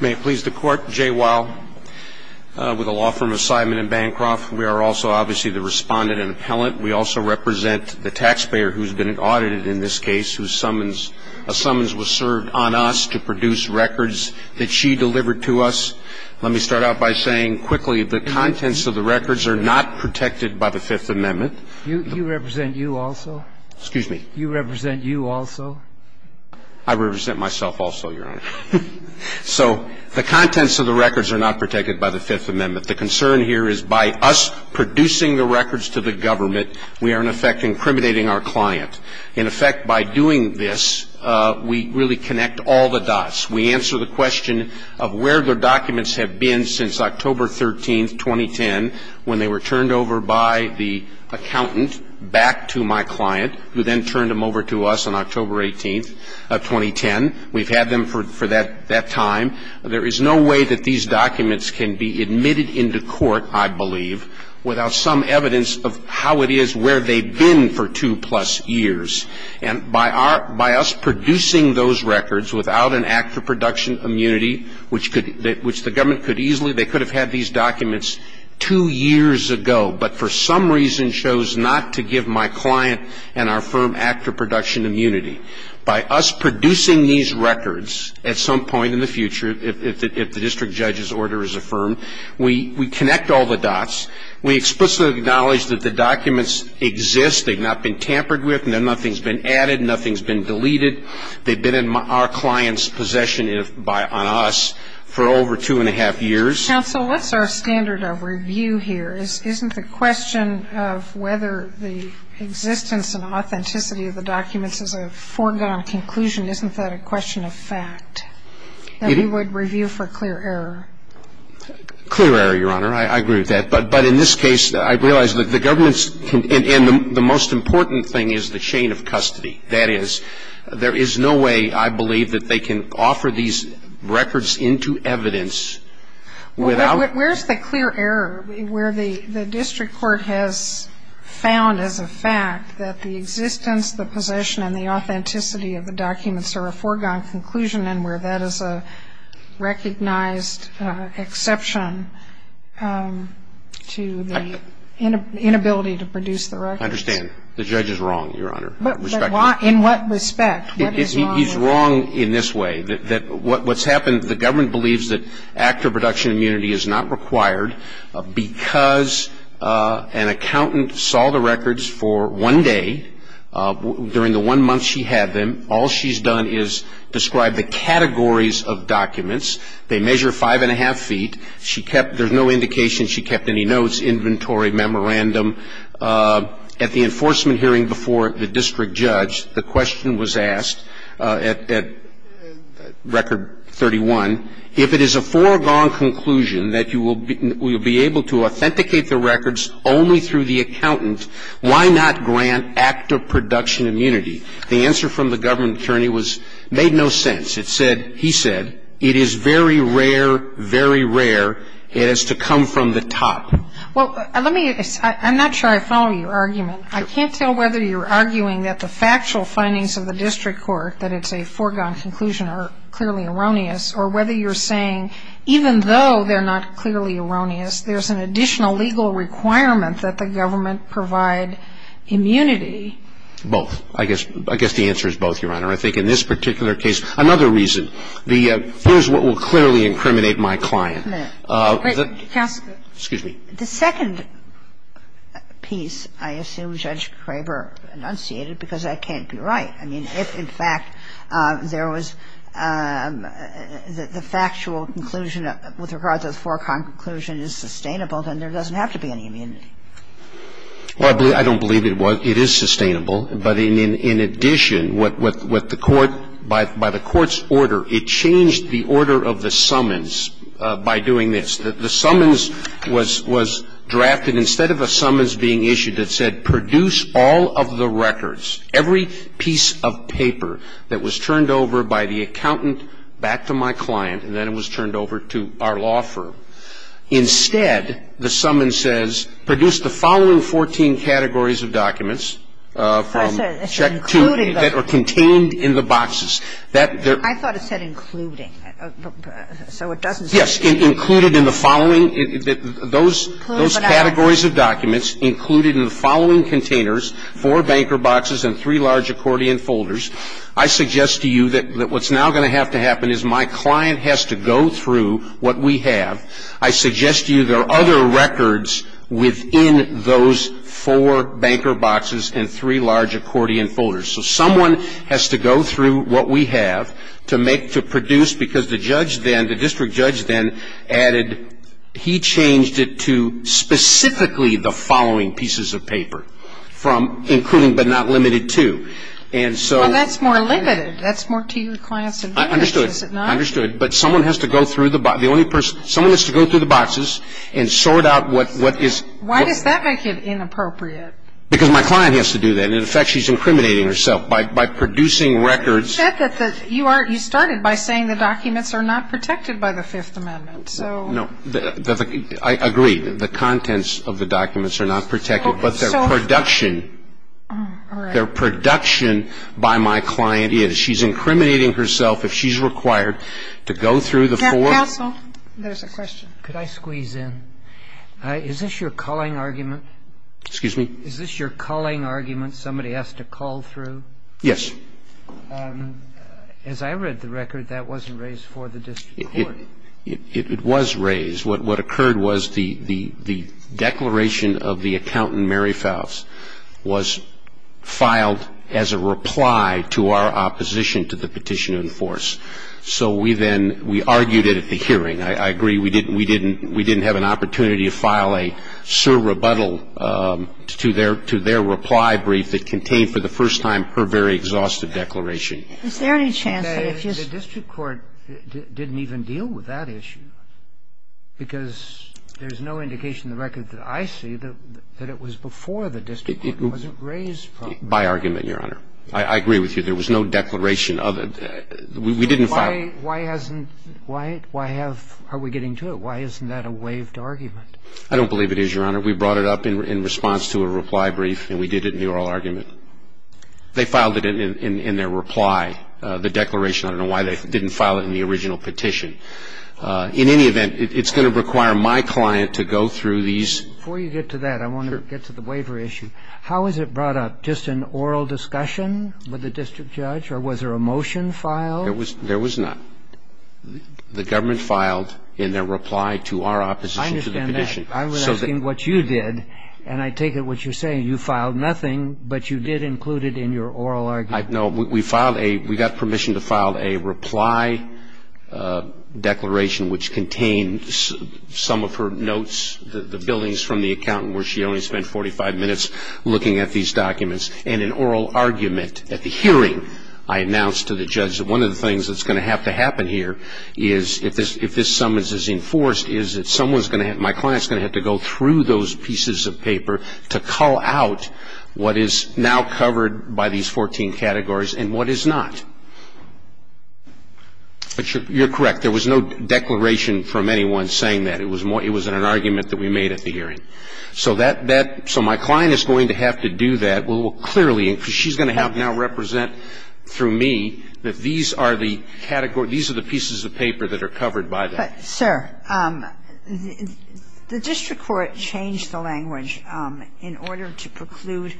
May it please the Court, Jay Weil, with the law firm of Sideman & Bancroft. We are also obviously the respondent and appellant. We also represent the taxpayer who has been audited in this case, whose summons was served on us to produce records that she delivered to us. Let me start out by saying quickly the contents of the records are not protected by the Fifth Amendment. You represent you also? Excuse me? You represent you also? I represent myself also, Your Honor. So the contents of the records are not protected by the Fifth Amendment. The concern here is by us producing the records to the government, we are in effect incriminating our client. In effect, by doing this, we really connect all the dots. We answer the question of where the documents have been since October 13, 2010, when they were turned over by the accountant back to my client, who then turned them over to us on October 18, 2010. We've had them for that time. There is no way that these documents can be admitted into court, I believe, without some evidence of how it is where they've been for two-plus years. And by our ‑‑ by us producing those records without an act of production immunity, which the government could easily ‑‑ they could have had these documents two years ago, but for some reason chose not to give my client and our firm act of production immunity. By us producing these records at some point in the future, if the district judge's order is affirmed, we connect all the dots. We explicitly acknowledge that the documents exist. They've not been tampered with. Nothing's been added. Nothing's been deleted. They've been in our client's possession on us for over two and a half years. Counsel, what's our standard of review here? Isn't the question of whether the existence and authenticity of the documents is a foregone conclusion, isn't that a question of fact, that we would review for clear error? Clear error, Your Honor. I agree with that. But in this case, I realize that the government's ‑‑ and the most important thing is the chain of custody. That is, there is no way, I believe, that they can offer these records into evidence without ‑‑ Where's the clear error where the district court has found as a fact that the existence, the possession, and the authenticity of the documents are a foregone conclusion and where that is a recognized exception to the inability to produce the records? I understand. The judge is wrong, Your Honor. But why? In what respect? He's wrong in this way, that what's happened, the government believes that actor production immunity is not required because an accountant saw the records for one day. During the one month she had them, all she's done is describe the categories of documents. They measure five and a half feet. She kept ‑‑ there's no indication she kept any notes, inventory, memorandum. At the enforcement hearing before the district judge, the question was asked at record 31, if it is a foregone conclusion that you will be able to authenticate the records only through the accountant, why not grant actor production immunity? The answer from the government attorney was, made no sense. It said, he said, it is very rare, very rare, it has to come from the top. Well, let me, I'm not sure I follow your argument. I can't tell whether you're arguing that the factual findings of the district court, that it's a foregone conclusion, are clearly erroneous, or whether you're saying even though they're not clearly erroneous, there's an additional legal requirement that the government provide immunity. Both. I guess the answer is both, Your Honor. I think in this particular case, another reason. The, here's what will clearly incriminate my client. Wait, counsel. Excuse me. The second piece, I assume Judge Kraber enunciated, because that can't be right. I mean, if, in fact, there was the factual conclusion with regards to the foregone conclusion is sustainable, then there doesn't have to be any immunity. Well, I don't believe it was. It is sustainable. But in addition, what the court, by the court's order, it changed the order of the summons by doing this. The summons was, was drafted instead of a summons being issued that said produce all of the records, every piece of paper that was turned over by the accountant back to my client, and then it was turned over to our law firm. Instead, the summons says produce the following 14 categories of documents from check 2 that are contained in the boxes. I thought it said including. So it doesn't say. Yes, included in the following, those categories of documents included in the following containers, four banker boxes and three large accordion folders. I suggest to you that what's now going to have to happen is my client has to go through what we have. I suggest to you there are other records within those four banker boxes and three large accordion folders. So someone has to go through what we have to make, to produce, because the judge then, the district judge then added, he changed it to specifically the following pieces of paper from including but not limited to. And so. Well, that's more limited. That's more to your client's advantage. I understood. Is it not? I understood. But someone has to go through the box. The only person, someone has to go through the boxes and sort out what is. Why does that make it inappropriate? Because my client has to do that. In effect, she's incriminating herself by producing records. You said that you started by saying the documents are not protected by the Fifth Amendment. No. I agree. The contents of the documents are not protected, but their production. Their production by my client is. She's incriminating herself if she's required to go through the four. Counsel, there's a question. Could I squeeze in? Is this your calling argument? Excuse me? Is this your calling argument somebody has to call through? Yes. As I read the record, that wasn't raised for the district court. It was raised. What occurred was the declaration of the accountant, Mary Faust, was filed as a reply to our opposition to the petition in force. So we then, we argued it at the hearing. I agree. We didn't have an opportunity to file a sur rebuttal to their reply brief that contained for the first time her very exhaustive declaration. Is there any chance that if you say the district court didn't even deal with that issue? Because there's no indication in the record that I see that it was before the district court. It wasn't raised. By argument, Your Honor. I agree with you. There was no declaration of it. We didn't file it. Why hasn't, why have, are we getting to it? Why isn't that a waived argument? I don't believe it is, Your Honor. We brought it up in response to a reply brief, and we did it in the oral argument. They filed it in their reply, the declaration. I don't know why they didn't file it in the original petition. In any event, it's going to require my client to go through these. Before you get to that, I want to get to the waiver issue. Sure. How was it brought up? Just an oral discussion with the district judge? Or was there a motion filed? There was not. The government filed in their reply to our opposition to the petition. I understand that. I was asking what you did, and I take it what you're saying. You filed nothing, but you did include it in your oral argument. No. We filed a, we got permission to file a reply declaration, which contained some of her notes, the billings from the accountant, where she only spent 45 minutes looking at these documents. And an oral argument at the hearing. I announced to the judge that one of the things that's going to have to happen here is, if this summons is enforced, is that someone's going to have, my client's going to have to go through those pieces of paper to call out what is now covered by these 14 categories and what is not. You're correct. There was no declaration from anyone saying that. It was an argument that we made at the hearing. So that, that, so my client is going to have to do that. We'll clearly, because she's going to have now represent through me that these are the categories, these are the pieces of paper that are covered by that. But, sir, the district court changed the language in order to preclude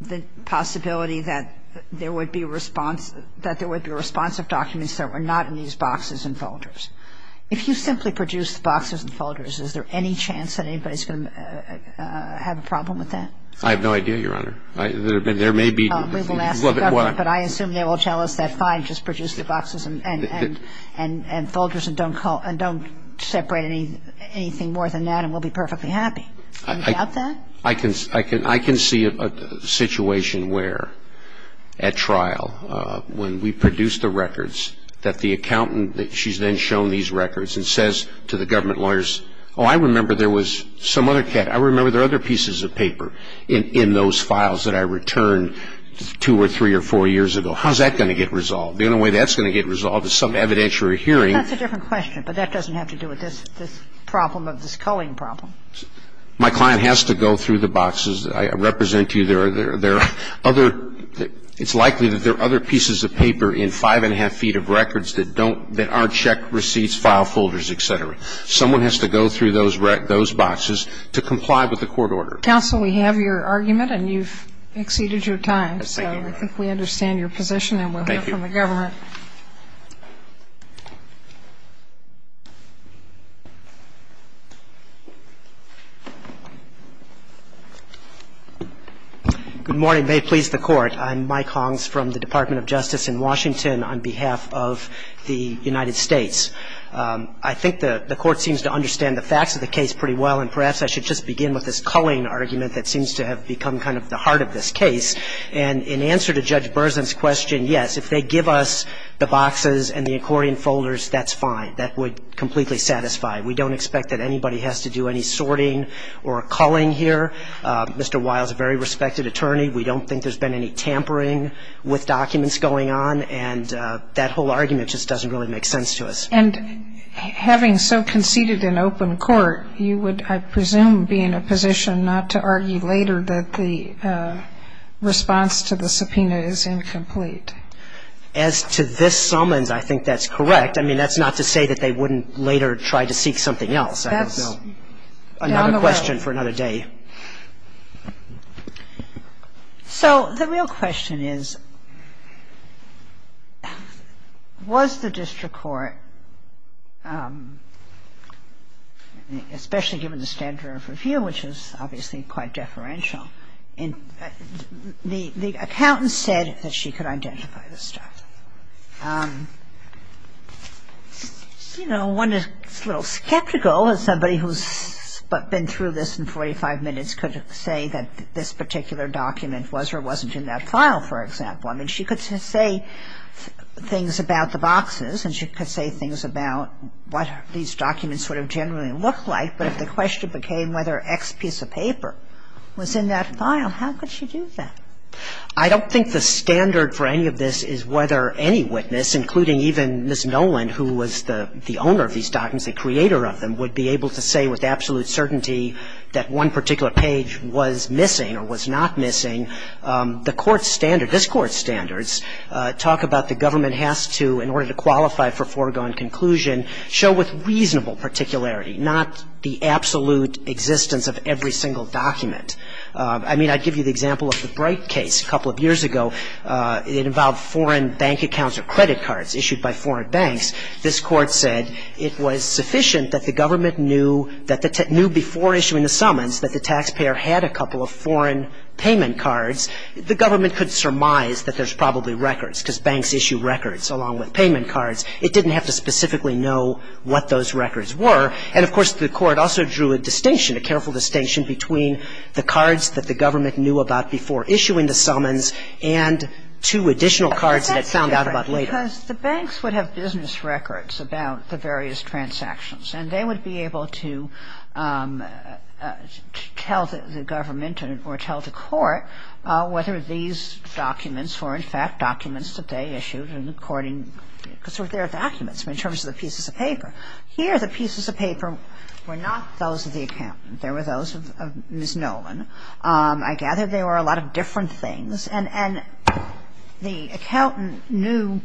the possibility that there would be response, that there would be responsive documents that were not in these boxes and folders. If you simply produce the boxes and folders, is there any chance that anybody's going to have a problem with that? I have no idea, Your Honor. There may be. We will ask the government. But I assume they will tell us that, fine, just produce the boxes and folders and don't separate anything more than that and we'll be perfectly happy. Do you doubt that? I can see a situation where, at trial, when we produce the records, that the accountant, she's then shown these records and says to the government lawyers, oh, I remember there was some other, I remember there were other pieces of paper in those files that I returned two or three or four years ago. How's that going to get resolved? The only way that's going to get resolved is some evidentiary hearing. That's a different question, but that doesn't have to do with this problem of this culling problem. My client has to go through the boxes. I represent to you there are other, it's likely that there are other pieces of paper in five and a half feet of records that don't, that aren't check receipts, file folders, et cetera. Someone has to go through those boxes to comply with the court order. Counsel, we have your argument and you've exceeded your time. Thank you, Your Honor. So I think we understand your position and we'll hear from the government. Thank you. Hong. Good morning. May it please the Court. I'm Mike Hongs from the Department of Justice in Washington on behalf of the United States. I think the Court seems to understand the facts of the case pretty well and perhaps I should just begin with this culling argument that seems to have become kind of the heart of this case. And in answer to Judge Berzin's question, yes, if they give us the boxes and the accordion folders, that's fine. That would completely satisfy. We don't expect that anybody has to do any sorting or culling here. Mr. Wiles is a very respected attorney. We don't think there's been any tampering with documents going on, and that whole argument just doesn't really make sense to us. And having so conceded an open court, you would, I presume, be in a position not to argue later that the response to the subpoena is incomplete. As to this summons, I think that's correct. I mean, that's not to say that they wouldn't later try to seek something else. That's down the road. I have a question for another day. So the real question is, was the district court, especially given the standard of review, which is obviously quite deferential, the accountant said that she could identify this stuff. You know, one is a little skeptical as somebody who's been through this in 45 minutes could say that this particular document was or wasn't in that file, for example. I mean, she could say things about the boxes, and she could say things about what these documents sort of generally look like. But if the question became whether X piece of paper was in that file, how could she do that? I don't think the standard for any of this is whether any witness, including even Ms. Noland, who was the owner of these documents, the creator of them, would be able to say with absolute certainty that one particular page was missing or was not missing. The court's standard, this Court's standards, talk about the government has to, in order to qualify for foregone conclusion, show with reasonable particularity, not the absolute existence of every single document. I mean, I give you the example of the Bright case a couple of years ago. It involved foreign bank accounts or credit cards issued by foreign banks. This Court said it was sufficient that the government knew that the tax – knew before issuing the summons that the taxpayer had a couple of foreign payment cards. The government could surmise that there's probably records because banks issue records along with payment cards. It didn't have to specifically know what those records were. And, of course, the Court also drew a distinction, a careful distinction between the cards that the government knew about before issuing the summons and two additional cards that it found out about later. Because the banks would have business records about the various transactions and they would be able to tell the government or tell the court whether these documents were, in fact, documents that they issued and according – because they're documents in terms of the pieces of paper. Here, the pieces of paper were not those of the accountant. They were those of Ms. Nolan. I gather they were a lot of different things. And the accountant knew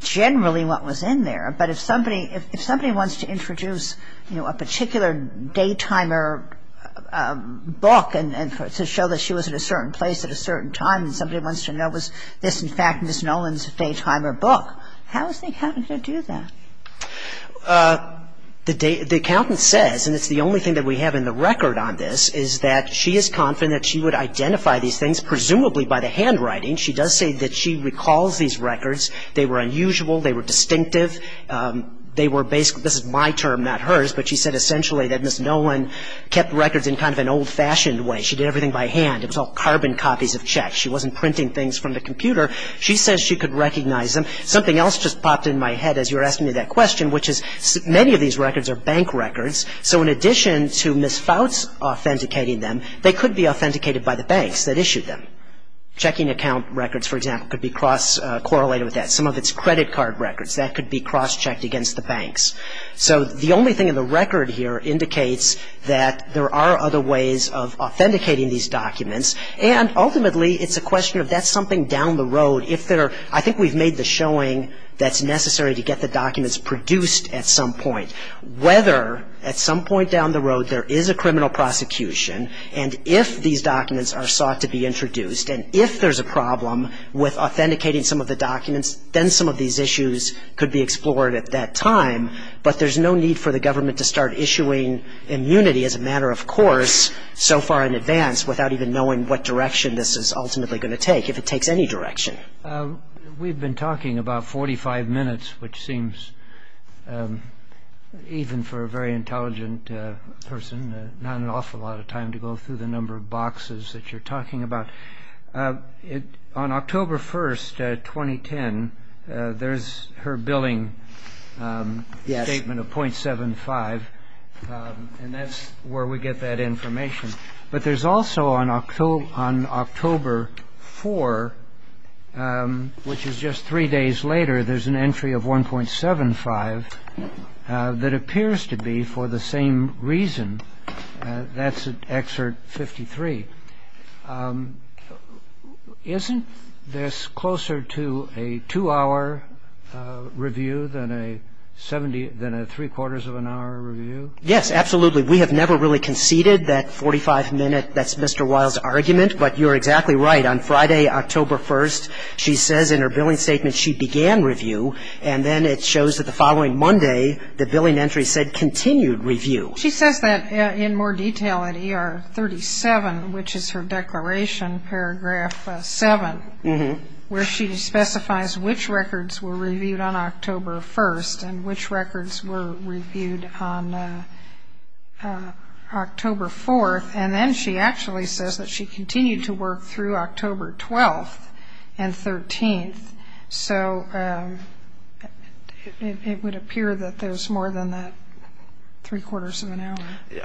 generally what was in there. But if somebody – if somebody wants to introduce, you know, a particular day-timer book and to show that she was at a certain place at a certain time and somebody wants to know was this, in fact, Ms. Nolan's day-timer book, how is the accountant going to do that? The accountant says, and it's the only thing that we have in the record on this, is that she is confident she would identify these things presumably by the handwriting. She does say that she recalls these records. They were unusual. They were distinctive. They were – this is my term, not hers, but she said essentially that Ms. Nolan kept records in kind of an old-fashioned way. She did everything by hand. It was all carbon copies of checks. She wasn't printing things from the computer. She says she could recognize them. Something else just popped in my head as you were asking me that question, which is many of these records are bank records. So in addition to Ms. Fouts authenticating them, they could be authenticated by the banks that issued them. Checking account records, for example, could be cross-correlated with that. Some of it's credit card records. That could be cross-checked against the banks. So the only thing in the record here indicates that there are other ways of authenticating these documents, and ultimately it's a question of that's something down the road. Whether at some point down the road there is a criminal prosecution and if these documents are sought to be introduced and if there's a problem with authenticating some of the documents, then some of these issues could be explored at that time, but there's no need for the government to start issuing immunity as a matter of course so far in advance without even knowing what direction this is ultimately going to take, if it takes any direction. We've been talking about 45 minutes, which seems, even for a very intelligent person, not an awful lot of time to go through the number of boxes that you're talking about. On October 1, 2010, there's her billing statement of .75, and that's where we get that information. But there's also on October 4, which is just three days later, there's an entry of 1.75 that appears to be for the same reason. That's at Excerpt 53. Isn't this closer to a two-hour review than a three-quarters of an hour review? Yes, absolutely. We have never really conceded that 45-minute, that's Mr. Wiles' argument, but you're exactly right. On Friday, October 1, she says in her billing statement she began review, and then it shows that the following Monday, the billing entry said continued review. She says that in more detail at ER 37, which is her declaration, paragraph 7, where she specifies which records were reviewed on October 1 and which records were reviewed on October 4, and then she actually says that she continued to work through October 12 and 13. So it would appear that there's more than that three-quarters of an hour.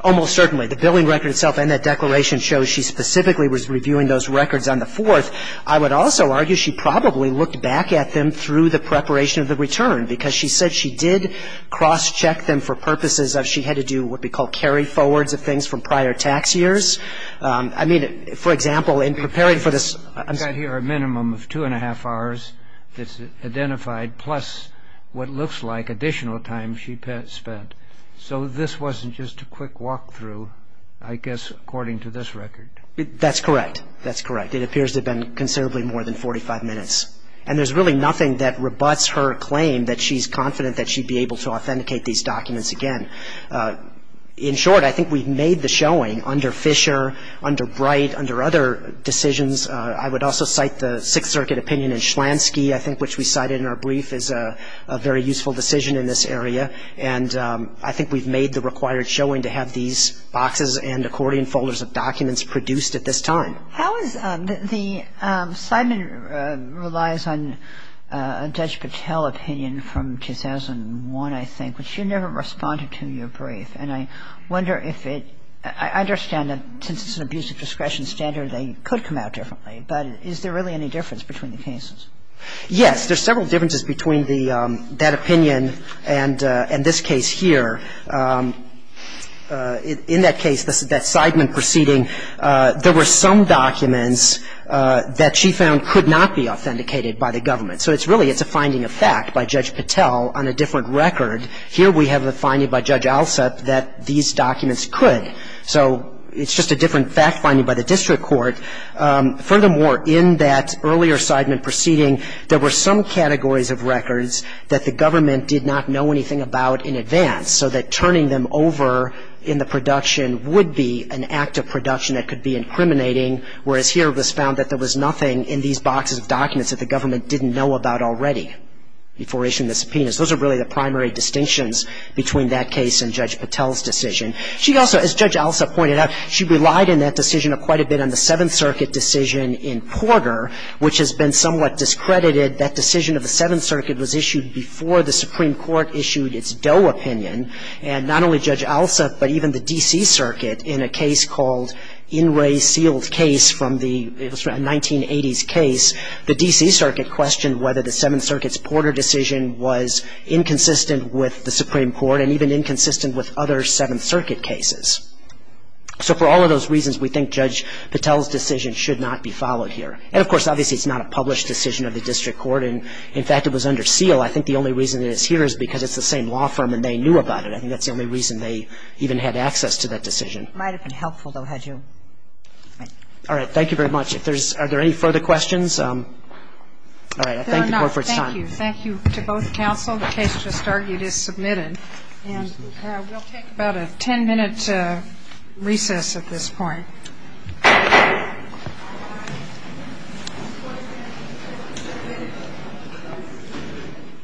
Almost certainly. The billing record itself and that declaration show she specifically was reviewing those records on the 4th. I would also argue she probably looked back at them through the preparation of the return, because she said she did cross-check them for purposes of she had to do what would be called carry-forwards of things from prior tax years. I mean, for example, in preparing for this... You've got here a minimum of two-and-a-half hours that's identified, plus what looks like additional time she spent. So this wasn't just a quick walk-through, I guess, according to this record. That's correct. That's correct. It appears to have been considerably more than 45 minutes. And there's really nothing that rebuts her claim that she's confident that she'd be able to authenticate these documents again. In short, I think we've made the showing under Fisher, under Bright, under other decisions. I would also cite the Sixth Circuit opinion in Schlansky, I think, which we cited in our brief, is a very useful decision in this area. And I think we've made the required showing to have these boxes and accordion folders of documents produced at this time. How is the – Seidman relies on a Judge Patel opinion from 2001, I think, which you never responded to in your brief. And I wonder if it – I understand that since it's an abuse of discretion standard, they could come out differently. But is there really any difference between the cases? Yes. There's several differences between that opinion and this case here. In that case, that Seidman proceeding, there were some documents that she found could not be authenticated by the government. So it's really – it's a finding of fact by Judge Patel on a different record. Here we have a finding by Judge Alsup that these documents could. So it's just a different fact finding by the district court. Furthermore, in that earlier Seidman proceeding, there were some categories of records that the government did not know anything about in advance, so that turning them over in the production would be an act of production that could be incriminating, whereas here it was found that there was nothing in these boxes of documents that the government didn't know about already before issuing the subpoenas. Those are really the primary distinctions between that case and Judge Patel's decision. She also – as Judge Alsup pointed out, she relied in that decision quite a bit on the Seventh Circuit decision in Porter, which has been somewhat discredited. That decision of the Seventh Circuit was issued before the Supreme Court issued its Doe opinion, and not only Judge Alsup, but even the D.C. Circuit in a case called In Re Sealed Case from the – it was a 1980s case. The D.C. Circuit questioned whether the Seventh Circuit's Porter decision was inconsistent with the Supreme Court and even inconsistent with other Seventh Circuit cases. So for all of those reasons, we think Judge Patel's decision should not be followed here. And, of course, obviously it's not a published decision of the district court. In fact, it was under seal. I think the only reason it is here is because it's the same law firm and they knew about it. I think that's the only reason they even had access to that decision. It might have been helpful, though, had you – All right. Thank you very much. If there's – are there any further questions? All right. I thank the Court for its time. There are not. Thank you. Thank you to both counsel. The case just argued is submitted. And we'll take about a ten-minute recess at this point. Thank you.